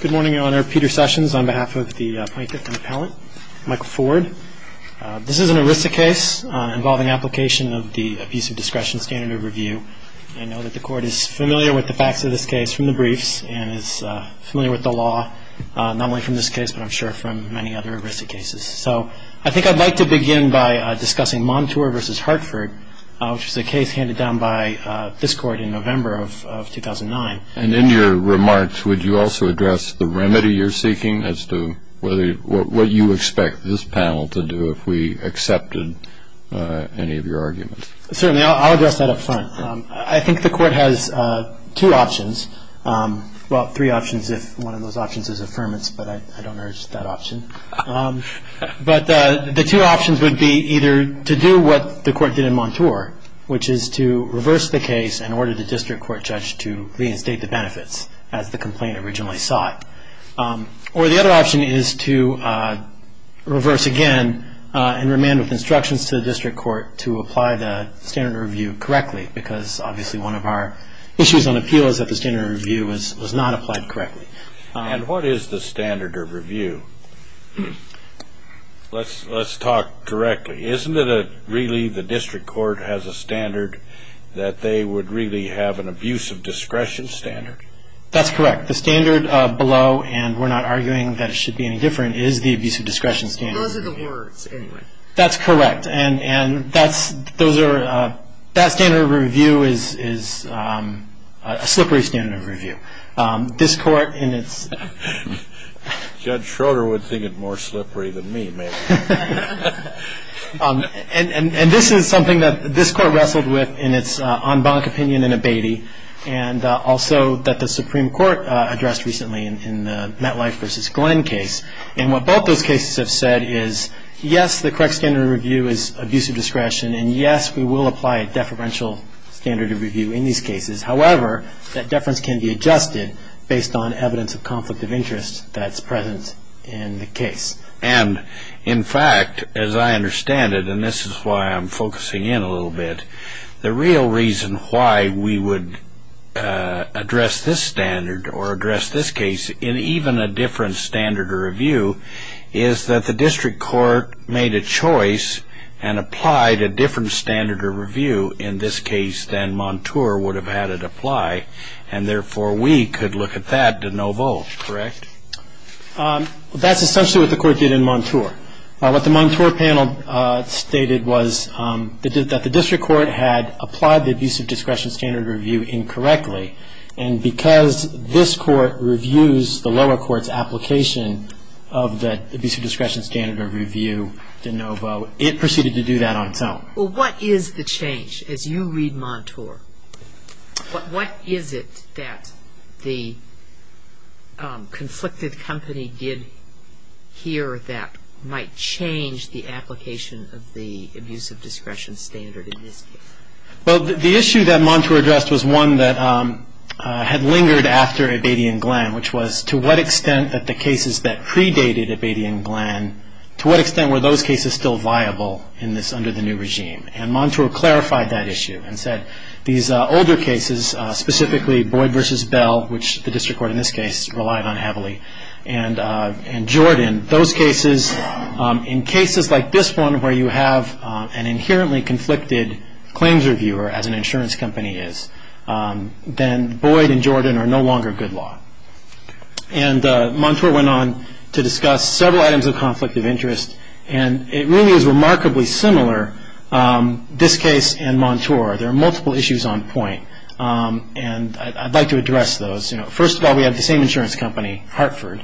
Good morning, Your Honor. Peter Sessions on behalf of the Plaintiff and Appellant, Michael Ford. This is an heuristic case involving application of the Abusive Discretion Standard of Review. I know that the Court is familiar with the facts of this case from the briefs and is familiar with the law, not only from this case but I'm sure from many other heuristic cases. So I think I'd like to begin by discussing Montour v. Hartford, which was a case handed down by this Court in November of 2009. And in your remarks, would you also address the remedy you're seeking as to what you expect this panel to do if we accepted any of your arguments? Certainly, I'll address that up front. I think the Court has two options, well, three options if one of those options is affirmance, but I don't urge that option. But the two options would be either to do what the Court did in Montour, which is to reverse the case and order the district court judge to reinstate the benefits, as the complaint originally sought. Or the other option is to reverse again and remand with instructions to the district court to apply the standard of review correctly, because obviously one of our issues on appeal is that the standard of review was not applied correctly. And what is the standard of review? Let's talk correctly. Isn't it really the district court has a standard that they would really have an abuse of discretion standard? That's correct. The standard below, and we're not arguing that it should be any different, is the abuse of discretion standard. Those are the words, anyway. That's correct. And that standard of review is a slippery standard of review. This Court in its... Judge Schroeder would think it more slippery than me, maybe. And this is something that this Court wrestled with in its en banc opinion in Abatey, and also that the Supreme Court addressed recently in the Metlife v. Glenn case. And what both those cases have said is, yes, the correct standard of review is abuse of discretion, and, yes, we will apply a deferential standard of review in these cases. However, that deference can be adjusted based on evidence of conflict of interest that's present in the case. And, in fact, as I understand it, and this is why I'm focusing in a little bit, the real reason why we would address this standard or address this case in even a different standard of review is that the district court made a choice and applied a different standard of review in this case than Montour would have had it apply, and therefore we could look at that to no vote, correct? That's essentially what the Court did in Montour. What the Montour panel stated was that the district court had applied the abuse of discretion standard of review incorrectly, and because this Court reviews the lower court's application of the abuse of discretion standard of review to no vote, it proceeded to do that on its own. Well, what is the change? As you read Montour, what is it that the conflicted company did here that might change the application of the abuse of discretion standard in this case? Well, the issue that Montour addressed was one that had lingered after Abadian-Glenn, which was to what extent that the cases that predated Abadian-Glenn, to what extent were those cases still viable under the new regime? And Montour clarified that issue and said these older cases, specifically Boyd v. Bell, which the district court in this case relied on heavily, and Jordan, those cases, in cases like this one where you have an inherently conflicted claims reviewer, as an insurance company is, then Boyd and Jordan are no longer good law. And Montour went on to discuss several items of conflict of interest, and it really is remarkably similar, this case and Montour. There are multiple issues on point, and I'd like to address those. First of all, we have the same insurance company, Hartford,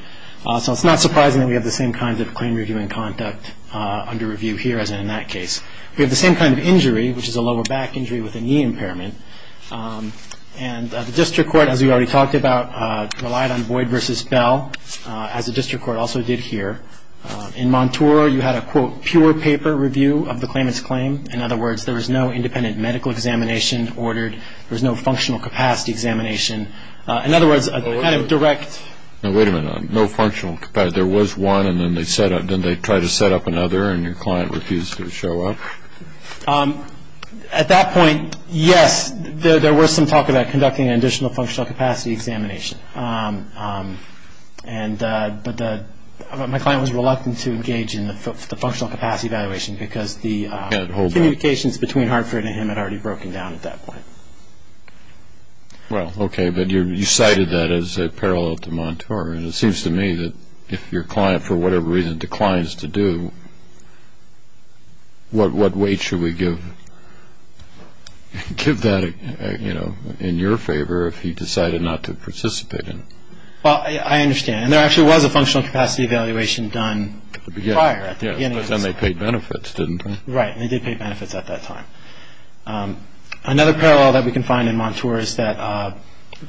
so it's not surprising that we have the same kinds of claim review and conduct under review here as in that case. We have the same kind of injury, which is a lower back injury with a knee impairment, and the district court, as we already talked about, relied on Boyd v. Bell, as the district court also did here. In Montour, you had a, quote, pure paper review of the claimant's claim. In other words, there was no independent medical examination ordered. There was no functional capacity examination. In other words, a kind of direct. Now, wait a minute. No functional capacity. There was one, and then they tried to set up another, and your client refused to show up? At that point, yes, there was some talk about conducting an additional functional capacity examination. But my client was reluctant to engage in the functional capacity evaluation because the communications between Hartford and him had already broken down at that point. Well, okay, but you cited that as a parallel to Montour, and it seems to me that if your client, for whatever reason, declines to do, what weight should we give that, you know, in your favor if he decided not to participate in it? Well, I understand. And there actually was a functional capacity evaluation done prior, at the beginning. Yes, because then they paid benefits, didn't they? Right, and they did pay benefits at that time. Another parallel that we can find in Montour is that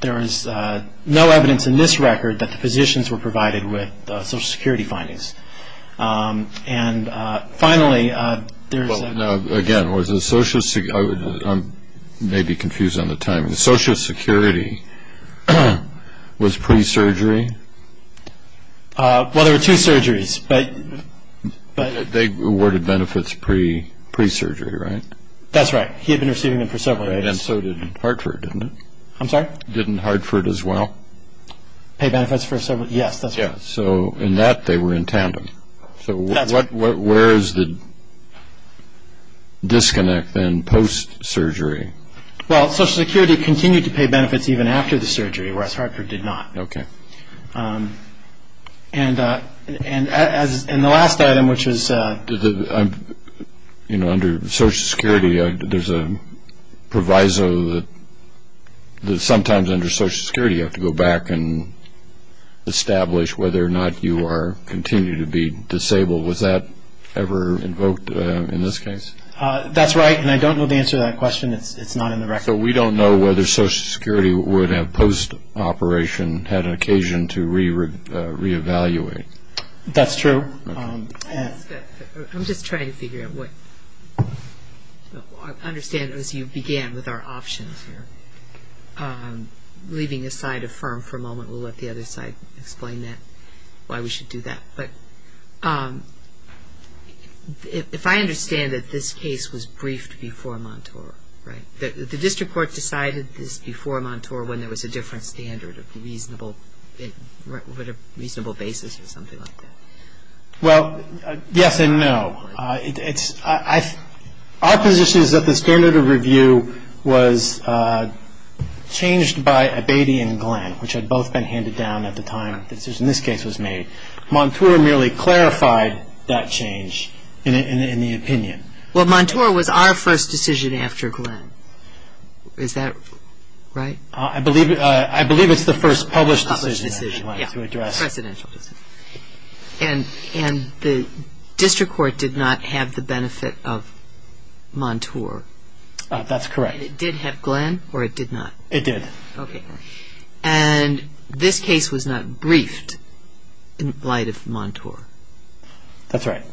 there is no evidence in this record that the physicians were provided with Social Security findings. And finally, there's a- Now, again, I may be confused on the timing. Social Security was pre-surgery? Well, there were two surgeries, but- They awarded benefits pre-surgery, right? That's right. He had been receiving them for several years. And so did Hartford, didn't it? I'm sorry? Didn't Hartford as well? So in that, they were in tandem. So where is the disconnect, then, post-surgery? Well, Social Security continued to pay benefits even after the surgery, whereas Hartford did not. Okay. And the last item, which is- You know, under Social Security, there's a proviso that sometimes under Social Security, you have to go back and establish whether or not you continue to be disabled. Was that ever invoked in this case? That's right, and I don't know the answer to that question. It's not in the record. So we don't know whether Social Security would have post-operation had an occasion to reevaluate. That's true. I'm just trying to figure out what- I might affirm for a moment. We'll let the other side explain that, why we should do that. But if I understand that this case was briefed before Montour, right? The district court decided this before Montour when there was a different standard of the reasonable basis or something like that. Well, yes and no. Our position is that the standard of review was changed by Abatey and Glenn, which had both been handed down at the time the decision in this case was made. Montour merely clarified that change in the opinion. Well, Montour was our first decision after Glenn. Is that right? I believe it's the first published decision. Published decision, yes. Presidential decision. And the district court did not have the benefit of Montour. That's correct. And it did have Glenn or it did not? It did. Okay. And this case was not briefed in light of Montour. That's right.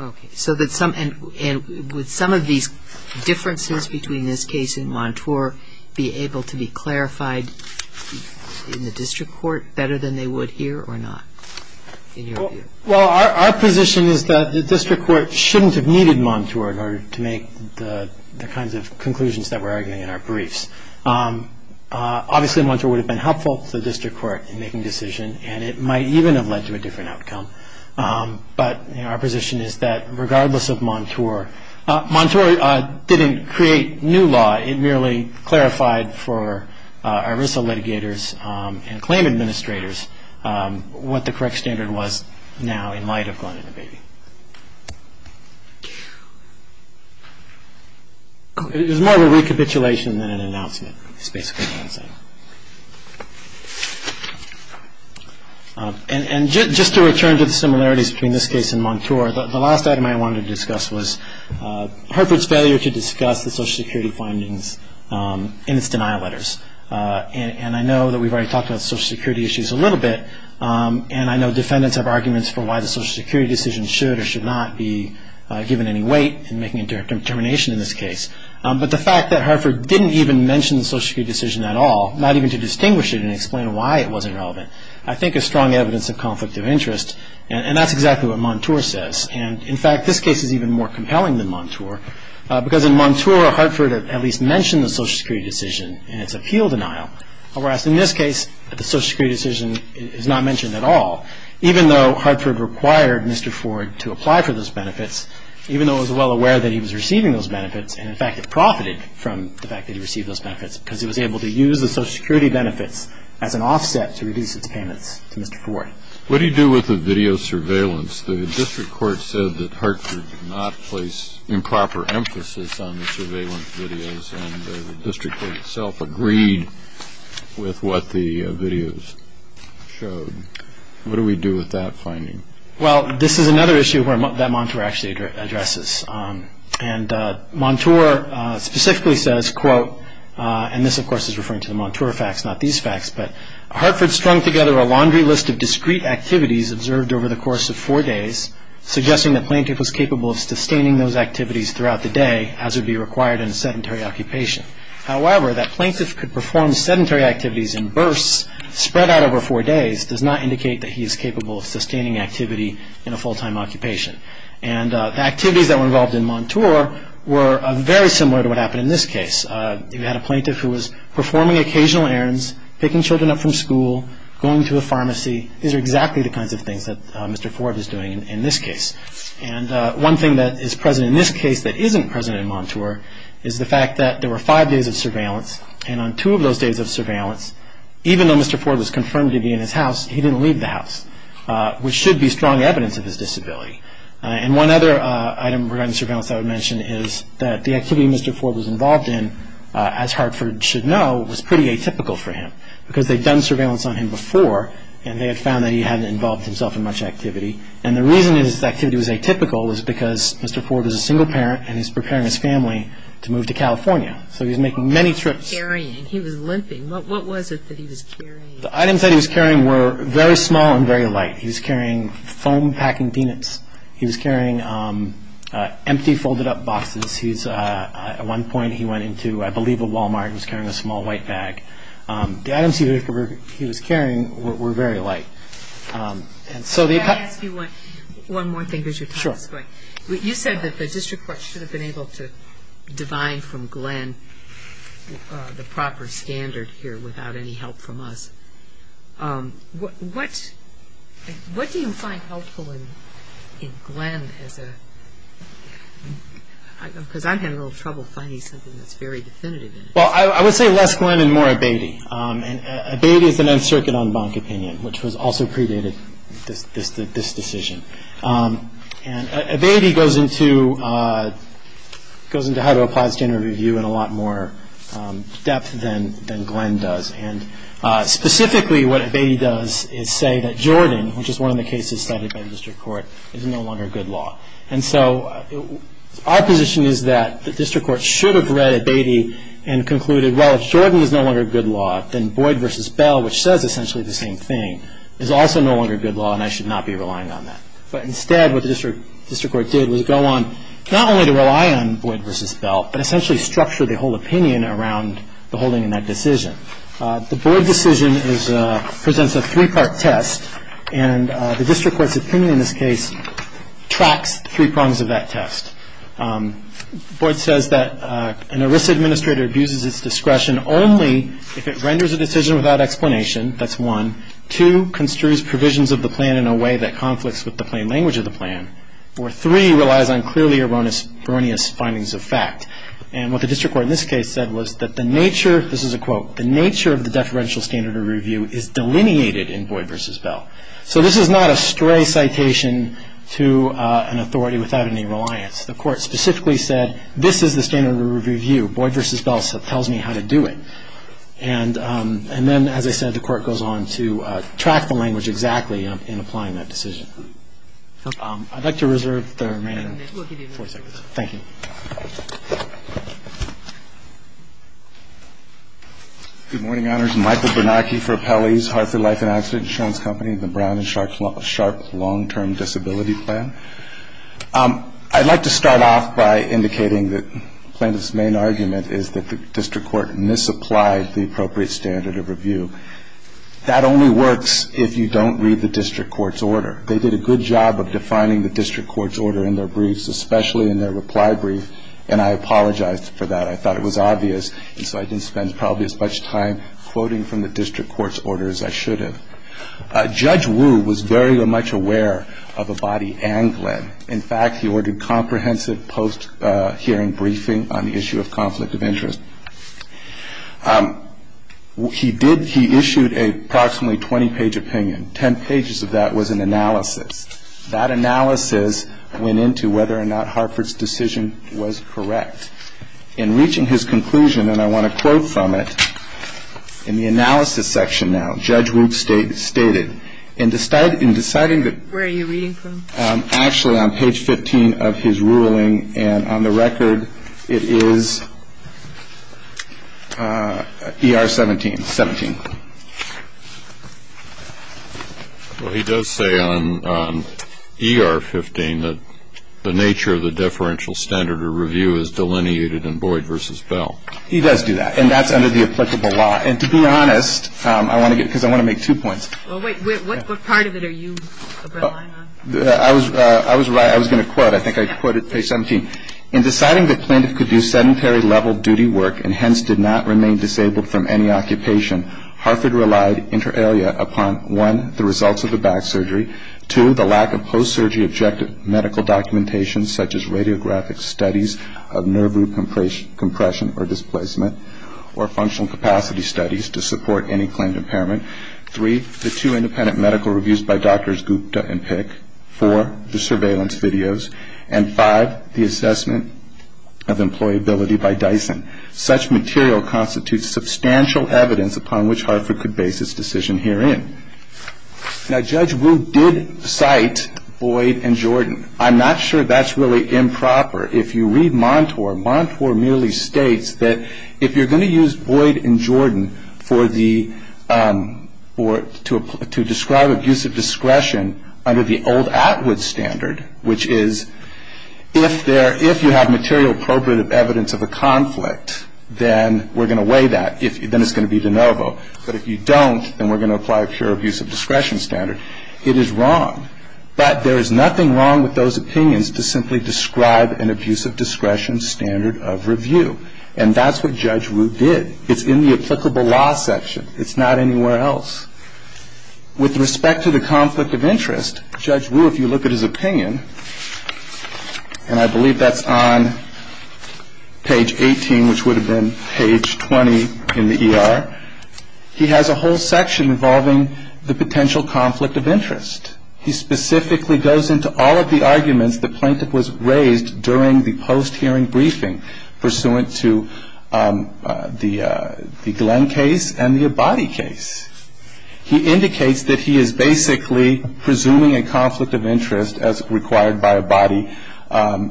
Okay. So would some of these differences between this case and Montour be able to be clarified in the district court better than they would here or not? Well, our position is that the district court shouldn't have needed Montour in order to make the kinds of conclusions that we're arguing in our briefs. Obviously, Montour would have been helpful to the district court in making a decision, and it might even have led to a different outcome. But our position is that regardless of Montour, Montour didn't create new law. It merely clarified for our RISA litigators and claim administrators what the correct standard was now in light of Glenn and the baby. It was more of a recapitulation than an announcement, is basically what I'm saying. And just to return to the similarities between this case and Montour, the last item I wanted to discuss was Herford's failure to discuss the Social Security findings in its denial letters. And I know that we've already talked about Social Security issues a little bit, and I know defendants have arguments for why the Social Security decision should or should not be given any weight in making a determination in this case. But the fact that Herford didn't even mention the Social Security decision at all, not even to distinguish it and explain why it wasn't relevant, I think is strong evidence of conflict of interest, and that's exactly what Montour says. And, in fact, this case is even more compelling than Montour, because in Montour Herford at least mentioned the Social Security decision in its appeal denial, whereas in this case the Social Security decision is not mentioned at all. Even though Herford required Mr. Ford to apply for those benefits, even though he was well aware that he was receiving those benefits, and, in fact, it profited from the fact that he received those benefits because he was able to use the Social Security benefits as an offset to reduce its payments to Mr. Ford. What do you do with the video surveillance? The district court said that Herford did not place improper emphasis on the surveillance videos, and the district court itself agreed with what the videos showed. What do we do with that finding? Well, this is another issue that Montour actually addresses. And Montour specifically says, quote, and this, of course, is referring to the Montour facts, not these facts, but, Herford strung together a laundry list of discrete activities observed over the course of four days, suggesting the plaintiff was capable of sustaining those activities throughout the day, as would be required in a sedentary occupation. However, that plaintiff could perform sedentary activities in bursts spread out over four days does not indicate that he is capable of sustaining activity in a full-time occupation. And the activities that were involved in Montour were very similar to what happened in this case. You had a plaintiff who was performing occasional errands, picking children up from school, going to a pharmacy. These are exactly the kinds of things that Mr. Ford is doing in this case. And one thing that is present in this case that isn't present in Montour is the fact that there were five days of surveillance, and on two of those days of surveillance, even though Mr. Ford was confirmed to be in his house, he didn't leave the house, which should be strong evidence of his disability. And one other item regarding surveillance I would mention is that the activity Mr. Ford was involved in, as Herford should know, was pretty atypical for him, because they'd done surveillance on him before, and they had found that he hadn't involved himself in much activity. And the reason that his activity was atypical was because Mr. Ford is a single parent, and he's preparing his family to move to California, so he's making many trips. What was he carrying? He was limping. What was it that he was carrying? The items that he was carrying were very small and very light. He was carrying foam-packing peanuts. He was carrying empty folded-up boxes. At one point he went into, I believe, a Walmart and was carrying a small white bag. The items he was carrying were very light. And so the – Can I ask you one more thing, because your time is going? Sure. You said that the district court should have been able to divine from Glenn the proper standard here without any help from us. What do you find helpful in Glenn as a – because I'm having a little trouble finding something that's very definitive in it. Well, I would say less Glenn and more Abeyte. And Abeyte is an Nth Circuit en banc opinion, which was also predated this decision. And Abeyte goes into how to apply standard review in a lot more depth than Glenn does. And specifically what Abeyte does is say that Jordan, which is one of the cases cited by the district court, is no longer good law. And so our position is that the district court should have read Abeyte and concluded, well, if Jordan is no longer good law, then Boyd v. Bell, which says essentially the same thing, is also no longer good law, and I should not be relying on that. But instead what the district court did was go on not only to rely on Boyd v. Bell, but essentially structure the whole opinion around the holding in that decision. The Boyd decision presents a three-part test, and the district court's opinion in this case tracks three prongs of that test. Boyd says that an illicit administrator abuses its discretion only if it renders a decision without explanation. That's one. Two, construes provisions of the plan in a way that conflicts with the plain language of the plan. Or three, relies on clearly erroneous findings of fact. And what the district court in this case said was that the nature, this is a quote, the nature of the deferential standard of review is delineated in Boyd v. Bell. So this is not a stray citation to an authority without any reliance. The court specifically said this is the standard of review. Boyd v. Bell tells me how to do it. And then, as I said, the court goes on to track the language exactly in applying that decision. I'd like to reserve the remaining four seconds. Thank you. Good morning, Honors. Michael Bernacchi for Appellees, Hartford Life and Accident Insurance Company, the Brown and Sharp Long-Term Disability Plan. I'd like to start off by indicating that plaintiff's main argument is that the district court misapplied the appropriate standard of review. That only works if you don't read the district court's order. They did a good job of defining the district court's order in their briefs, especially in their reply brief. And I apologized for that. I thought it was obvious, and so I didn't spend probably as much time quoting from the district court's order as I should have. Judge Wu was very much aware of a body and Glenn. In fact, he ordered comprehensive post-hearing briefing on the issue of conflict of interest. He did he issued a approximately 20-page opinion. Ten pages of that was an analysis. That analysis went into whether or not Hartford's decision was correct. In reaching his conclusion, and I want to quote from it, in the analysis section now, Judge Wu stated, in deciding that actually on page 15 of his ruling, and on the record, it is ER 17, 17. Well, he does say on ER 15 that the nature of the differential standard of review is delineated in Boyd v. Bell. He does do that. And that's under the applicable law. And to be honest, I want to get, because I want to make two points. Well, wait. What part of it are you relying on? I was going to quote. I think I quoted page 17. In deciding that plaintiff could do sedentary level duty work and hence did not remain disabled from any occupation, Hartford relied inter alia upon, one, the results of the back surgery. Two, the lack of post-surgery objective medical documentation such as radiographic studies of nerve root compression or displacement or functional capacity studies to support any claimed impairment. Three, the two independent medical reviews by Drs. Gupta and Pick. Four, the surveillance videos. And five, the assessment of employability by Dyson. Such material constitutes substantial evidence upon which Hartford could base his decision herein. Now, Judge Wu did cite Boyd and Jordan. I'm not sure that's really improper. If you read Montour, Montour merely states that if you're going to use Boyd and Jordan for the or to describe abuse of discretion under the old Atwood standard, which is if you have material appropriate evidence of a conflict, then we're going to weigh that. Then it's going to be de novo. But if you don't, then we're going to apply a pure abuse of discretion standard. It is wrong. But there is nothing wrong with those opinions to simply describe an abuse of discretion standard of review. And that's what Judge Wu did. It's in the applicable law section. It's not anywhere else. With respect to the conflict of interest, Judge Wu, if you look at his opinion, and I believe that's on page 18, which would have been page 20 in the ER, he has a whole section involving the potential conflict of interest. He specifically goes into all of the arguments the plaintiff was raised during the post-hearing briefing pursuant to the Glenn case and the Abadie case. He indicates that he is basically presuming a conflict of interest as required by Abadie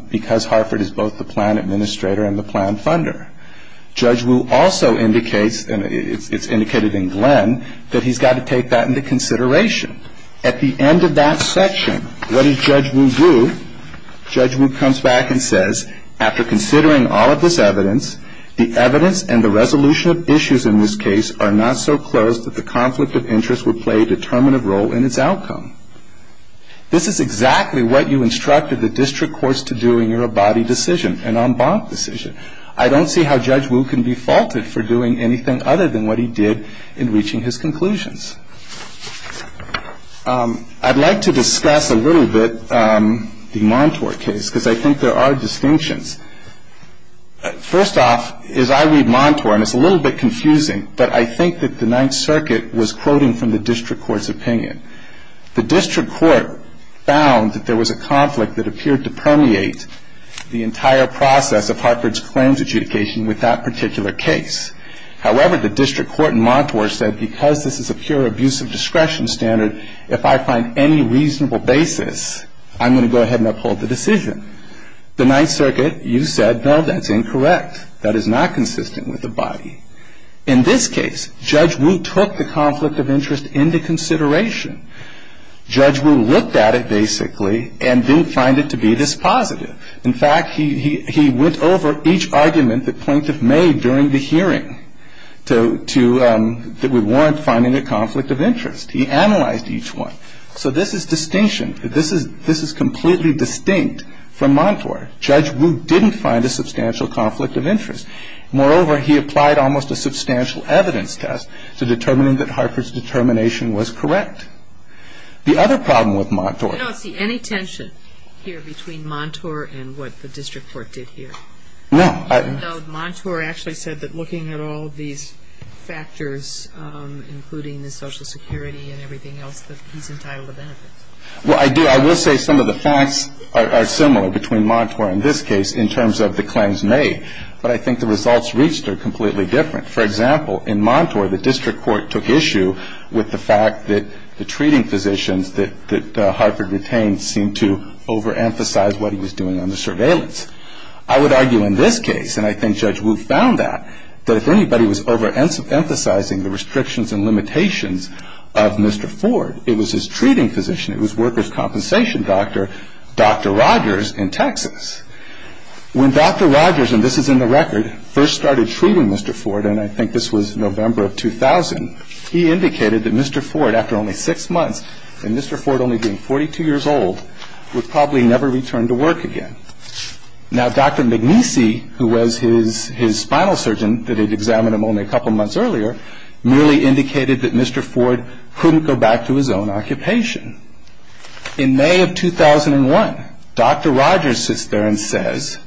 because Harford is both the plan administrator and the plan funder. Judge Wu also indicates, and it's indicated in Glenn, that he's got to take that into consideration. At the end of that section, what does Judge Wu do? Judge Wu comes back and says, after considering all of this evidence, the evidence and the resolution of issues in this case are not so close that the conflict of interest would play a determinative role in its outcome. This is exactly what you instructed the district courts to do in your Abadie decision, an en banc decision. I don't see how Judge Wu can be faulted for doing anything other than what he did in reaching his conclusions. I'd like to discuss a little bit the Montour case because I think there are distinctions. First off, as I read Montour, and it's a little bit confusing, but I think that the Ninth Circuit was quoting from the district court's opinion. The district court found that there was a conflict that appeared to permeate the entire process of Harford's claims adjudication with that particular case. However, the district court in Montour said, because this is a pure abuse of discretion standard, if I find any reasonable basis, I'm going to go ahead and uphold the decision. The Ninth Circuit, you said, no, that's incorrect. That is not consistent with Abadie. In this case, Judge Wu took the conflict of interest into consideration. Judge Wu looked at it, basically, and didn't find it to be this positive. In fact, he went over each argument the plaintiff made during the hearing that would warrant finding a conflict of interest. He analyzed each one. So this is distinction. This is completely distinct from Montour. Judge Wu didn't find a substantial conflict of interest. Moreover, he applied almost a substantial evidence test to determining that Harford's determination was correct. The other problem with Montour. I don't see any tension here between Montour and what the district court did here. No. No, Montour actually said that looking at all these factors, including the Social Security and everything else, that he's entitled to benefits. Well, I do. I will say some of the facts are similar between Montour and this case in terms of the claims made. But I think the results reached are completely different. For example, in Montour, the district court took issue with the fact that the treating physicians that Harford retained seemed to overemphasize what he was doing on the surveillance. I would argue in this case, and I think Judge Wu found that, that if anybody was overemphasizing the restrictions and limitations of Mr. Ford, it was his treating physician, it was workers' compensation doctor, Dr. Rogers in Texas. When Dr. Rogers, and this is in the record, first started treating Mr. Ford, and I think this was November of 2000, he indicated that Mr. Ford, after only six months, and Mr. Ford only being 42 years old, would probably never return to work again. Now, Dr. Magnese, who was his spinal surgeon, that had examined him only a couple months earlier, merely indicated that Mr. Ford couldn't go back to his own occupation. In May of 2001, Dr. Rogers sits there and says,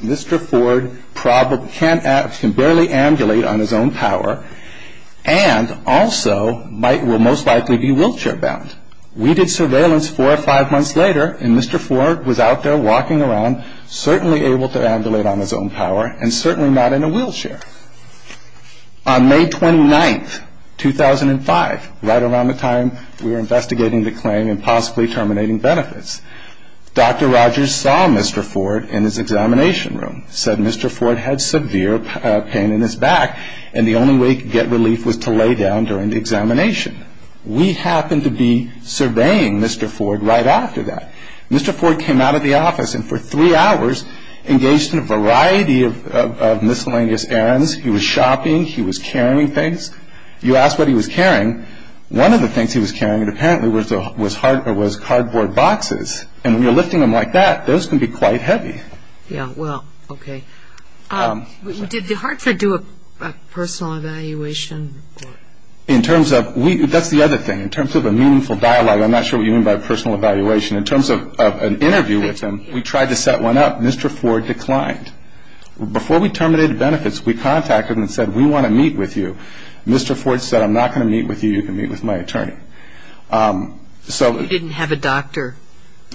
Mr. Ford can barely ambulate on his own power, and also will most likely be wheelchair-bound. We did surveillance four or five months later, and Mr. Ford was out there walking around, certainly able to ambulate on his own power, and certainly not in a wheelchair. On May 29, 2005, right around the time we were investigating the claim and possibly terminating benefits, Dr. Rogers saw Mr. Ford in his examination room, said Mr. Ford had severe pain in his back, and the only way to get relief was to lay down during the examination. We happened to be surveying Mr. Ford right after that. Mr. Ford came out of the office and for three hours engaged in a variety of miscellaneous errands. He was shopping. He was carrying things. You ask what he was carrying, one of the things he was carrying apparently was cardboard boxes, and when you're lifting them like that, those can be quite heavy. Yeah, well, okay. Did Hartford do a personal evaluation? That's the other thing. In terms of a meaningful dialogue, I'm not sure what you mean by personal evaluation. In terms of an interview with him, we tried to set one up. Mr. Ford declined. Before we terminated benefits, we contacted him and said, we want to meet with you. Mr. Ford said, I'm not going to meet with you. You can meet with my attorney. You didn't have a doctor?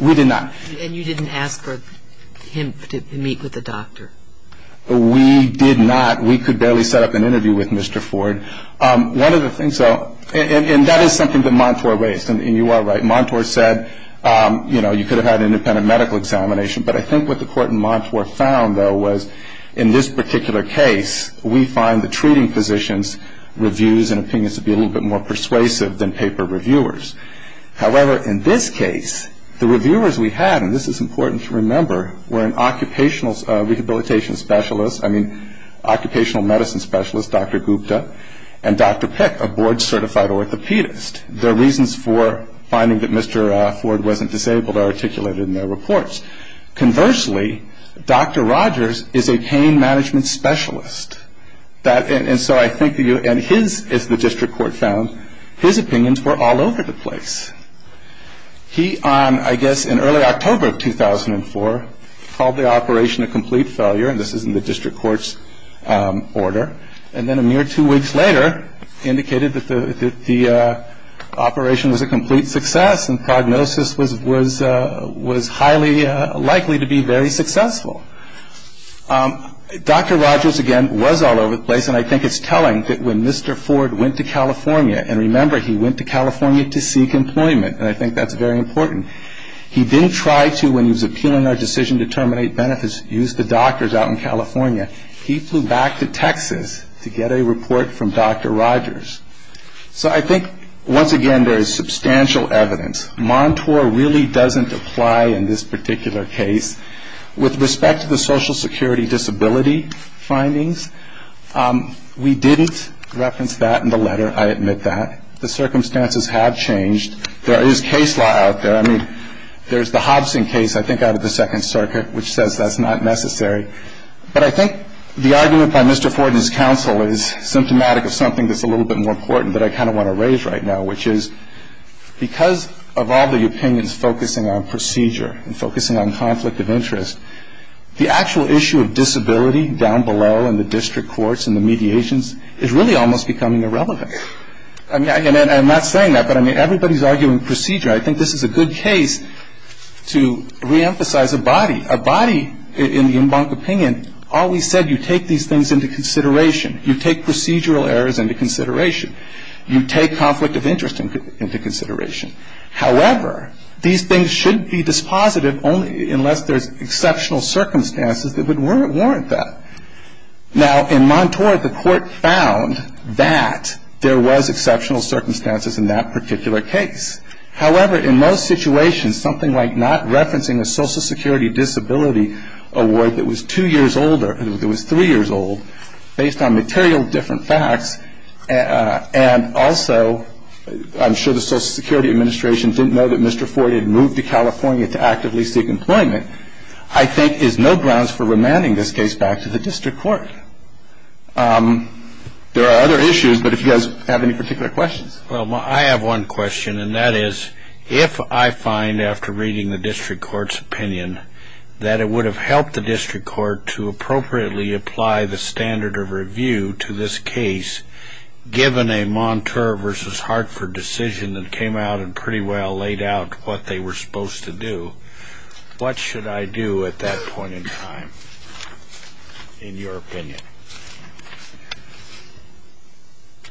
We did not. And you didn't ask for him to meet with a doctor? We did not. We could barely set up an interview with Mr. Ford. One of the things, and that is something that Montour raised, and you are right. Montour said, you know, you could have had an independent medical examination, but I think what the court in Montour found, though, was in this particular case, we find the treating physicians' reviews and opinions to be a little bit more persuasive than paper reviewers. However, in this case, the reviewers we had, and this is important to remember, were an occupational rehabilitation specialist, I mean, occupational medicine specialist, Dr. Gupta, and Dr. Pick, a board-certified orthopedist. Their reasons for finding that Mr. Ford wasn't disabled are articulated in their reports. Conversely, Dr. Rogers is a pain management specialist. And so I think, as the district court found, his opinions were all over the place. He, I guess in early October of 2004, called the operation a complete failure, and this is in the district court's order, and then a mere two weeks later indicated that the operation was a complete success and prognosis was highly likely to be very successful. Dr. Rogers, again, was all over the place, and I think it's telling that when Mr. Ford went to California, and remember, he went to California to seek employment, and I think that's very important. He didn't try to, when he was appealing our decision to terminate benefits, use the doctors out in California. He flew back to Texas to get a report from Dr. Rogers. So I think, once again, there is substantial evidence. Montour really doesn't apply in this particular case. With respect to the Social Security disability findings, we didn't reference that in the letter, I admit that. The circumstances have changed. There is case law out there. I mean, there's the Hobson case, I think, out of the Second Circuit, which says that's not necessary. But I think the argument by Mr. Ford and his counsel is symptomatic of something that's a little bit more important that I kind of want to raise right now, which is because of all the opinions focusing on procedure and focusing on conflict of interest, the actual issue of disability down below in the district courts and the mediations is really almost becoming irrelevant. I mean, I'm not saying that, but, I mean, everybody's arguing procedure. I think this is a good case to reemphasize a body. A body, in the Embank opinion, always said you take these things into consideration. You take procedural errors into consideration. You take conflict of interest into consideration. However, these things shouldn't be dispositive unless there's exceptional circumstances that would warrant that. Now, in Montour, the court found that there was exceptional circumstances in that particular case. However, in most situations, something like not referencing a Social Security Disability Award that was two years older, that was three years old, based on material different facts, and also, I'm sure the Social Security Administration didn't know that Mr. Ford had moved to California to actively seek employment, I think is no grounds for remanding this case back to the district court. There are other issues, but if you guys have any particular questions. Well, I have one question, and that is, if I find, after reading the district court's opinion, that it would have helped the district court to appropriately apply the standard of review to this case, given a Montour v. Hartford decision that came out and pretty well laid out what they were supposed to do, what should I do at that point in time, in your opinion?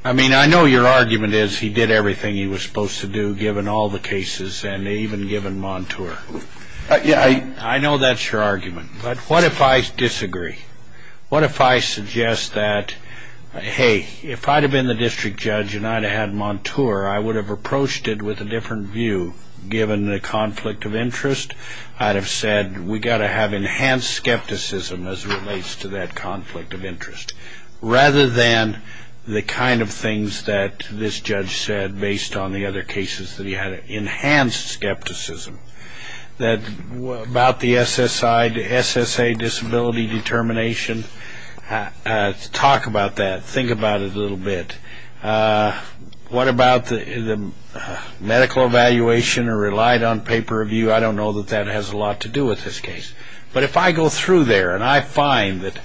I mean, I know your argument is he did everything he was supposed to do, given all the cases, and even given Montour. I know that's your argument, but what if I disagree? What if I suggest that, hey, if I'd have been the district judge and I'd have had Montour, I would have approached it with a different view, given the conflict of interest. I'd have said, we've got to have enhanced skepticism as it relates to that conflict of interest, rather than the kind of things that this judge said based on the other cases that he had. Enhanced skepticism about the SSA disability determination. Talk about that. Think about it a little bit. What about the medical evaluation or relied on pay-per-view? I don't know that that has a lot to do with this case. But if I go through there and I find that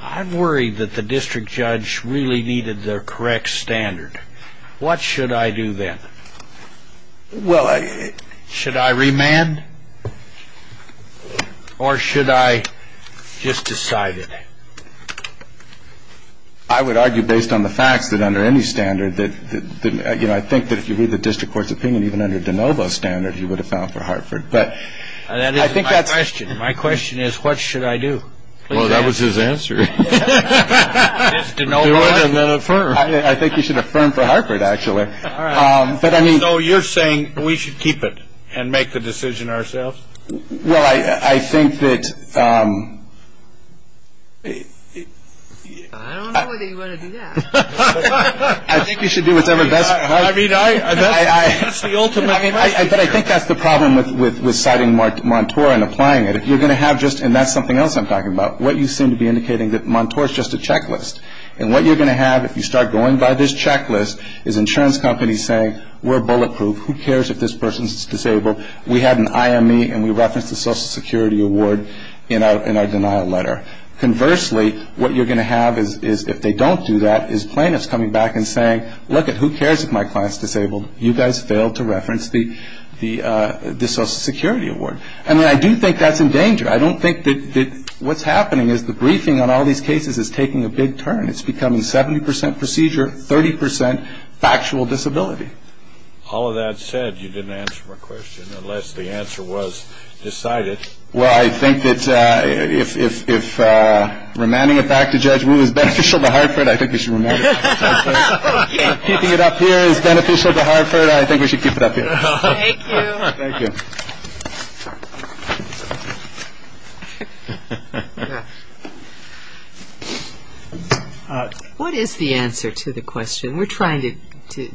I'm worried that the district judge really needed the correct standard, what should I do then? Should I remand or should I just decide it? I would argue, based on the facts, that under any standard, I think that if you read the district court's opinion, even under DeNovo's standard, you would have filed for Hartford. My question is, what should I do? Well, that was his answer. Just DeNovo it and then affirm. I think you should affirm for Hartford, actually. So you're saying we should keep it and make the decision ourselves? Well, I think that... I don't know whether you want to do that. I think you should do what's ever best for Hartford. I mean, that's the ultimate question. But I think that's the problem with citing Montour and applying it. If you're going to have just, and that's something else I'm talking about, what you seem to be indicating that Montour is just a checklist. And what you're going to have if you start going by this checklist is insurance companies saying, we're bulletproof, who cares if this person's disabled. We had an IME and we referenced the Social Security award in our denial letter. Conversely, what you're going to have is, if they don't do that, is plaintiffs coming back and saying, look it, who cares if my client's disabled. You guys failed to reference the Social Security award. And I do think that's in danger. I don't think that what's happening is the briefing on all these cases is taking a big turn. It's becoming 70% procedure, 30% factual disability. All of that said, you didn't answer my question unless the answer was decided. Well, I think that if remanding it back to Judge Wu is beneficial to Hartford, I think we should remand it back to Judge Wu. If keeping it up here is beneficial to Hartford, I think we should keep it up here. Thank you. Thank you. What is the answer to the question? We're trying to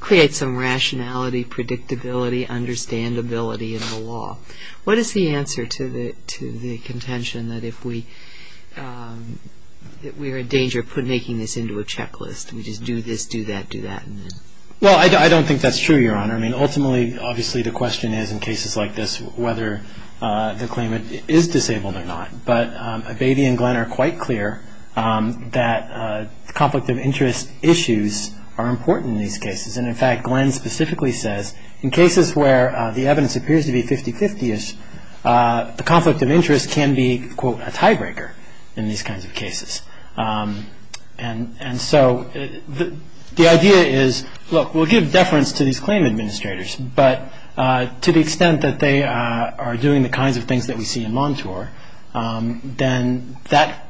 create some rationality, predictability, understandability in the law. What is the answer to the contention that if we're in danger of making this into a checklist, we just do this, do that, do that? Well, I don't think that's true, Your Honor. Ultimately, obviously the question is in cases like this whether the claimant is disabled or not. But Abatey and Glenn are quite clear that conflict of interest issues are important in these cases. And, in fact, Glenn specifically says in cases where the evidence appears to be 50-50ish, the conflict of interest can be, quote, a tiebreaker in these kinds of cases. And so the idea is, look, we'll give deference to these claim administrators, but to the extent that they are doing the kinds of things that we see in Montour, then that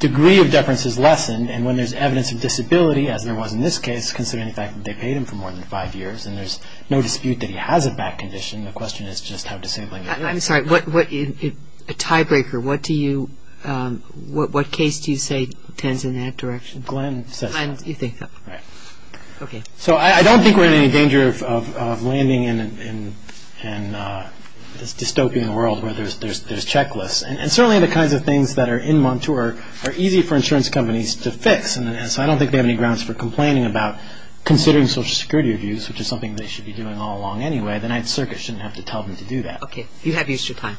degree of deference is lessened. And when there's evidence of disability, as there was in this case, considering the fact that they paid him for more than five years and there's no dispute that he has a back condition, the question is just how disabling it is. I'm sorry. A tiebreaker, what case do you say tends in that direction? Glenn says that. Glenn, you think that. Right. Okay. So I don't think we're in any danger of landing in this dystopian world where there's checklists. And certainly the kinds of things that are in Montour are easy for insurance companies to fix. And so I don't think they have any grounds for complaining about considering Social Security reviews, which is something they should be doing all along anyway. The Ninth Circuit shouldn't have to tell them to do that. Okay. You have used your time.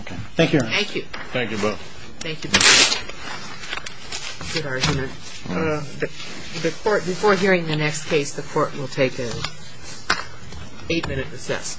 Okay. Thank you, Your Honor. Thank you. Thank you both. Thank you. Good argument. Before hearing the next case, the Court will take an eight-minute recess. All rise.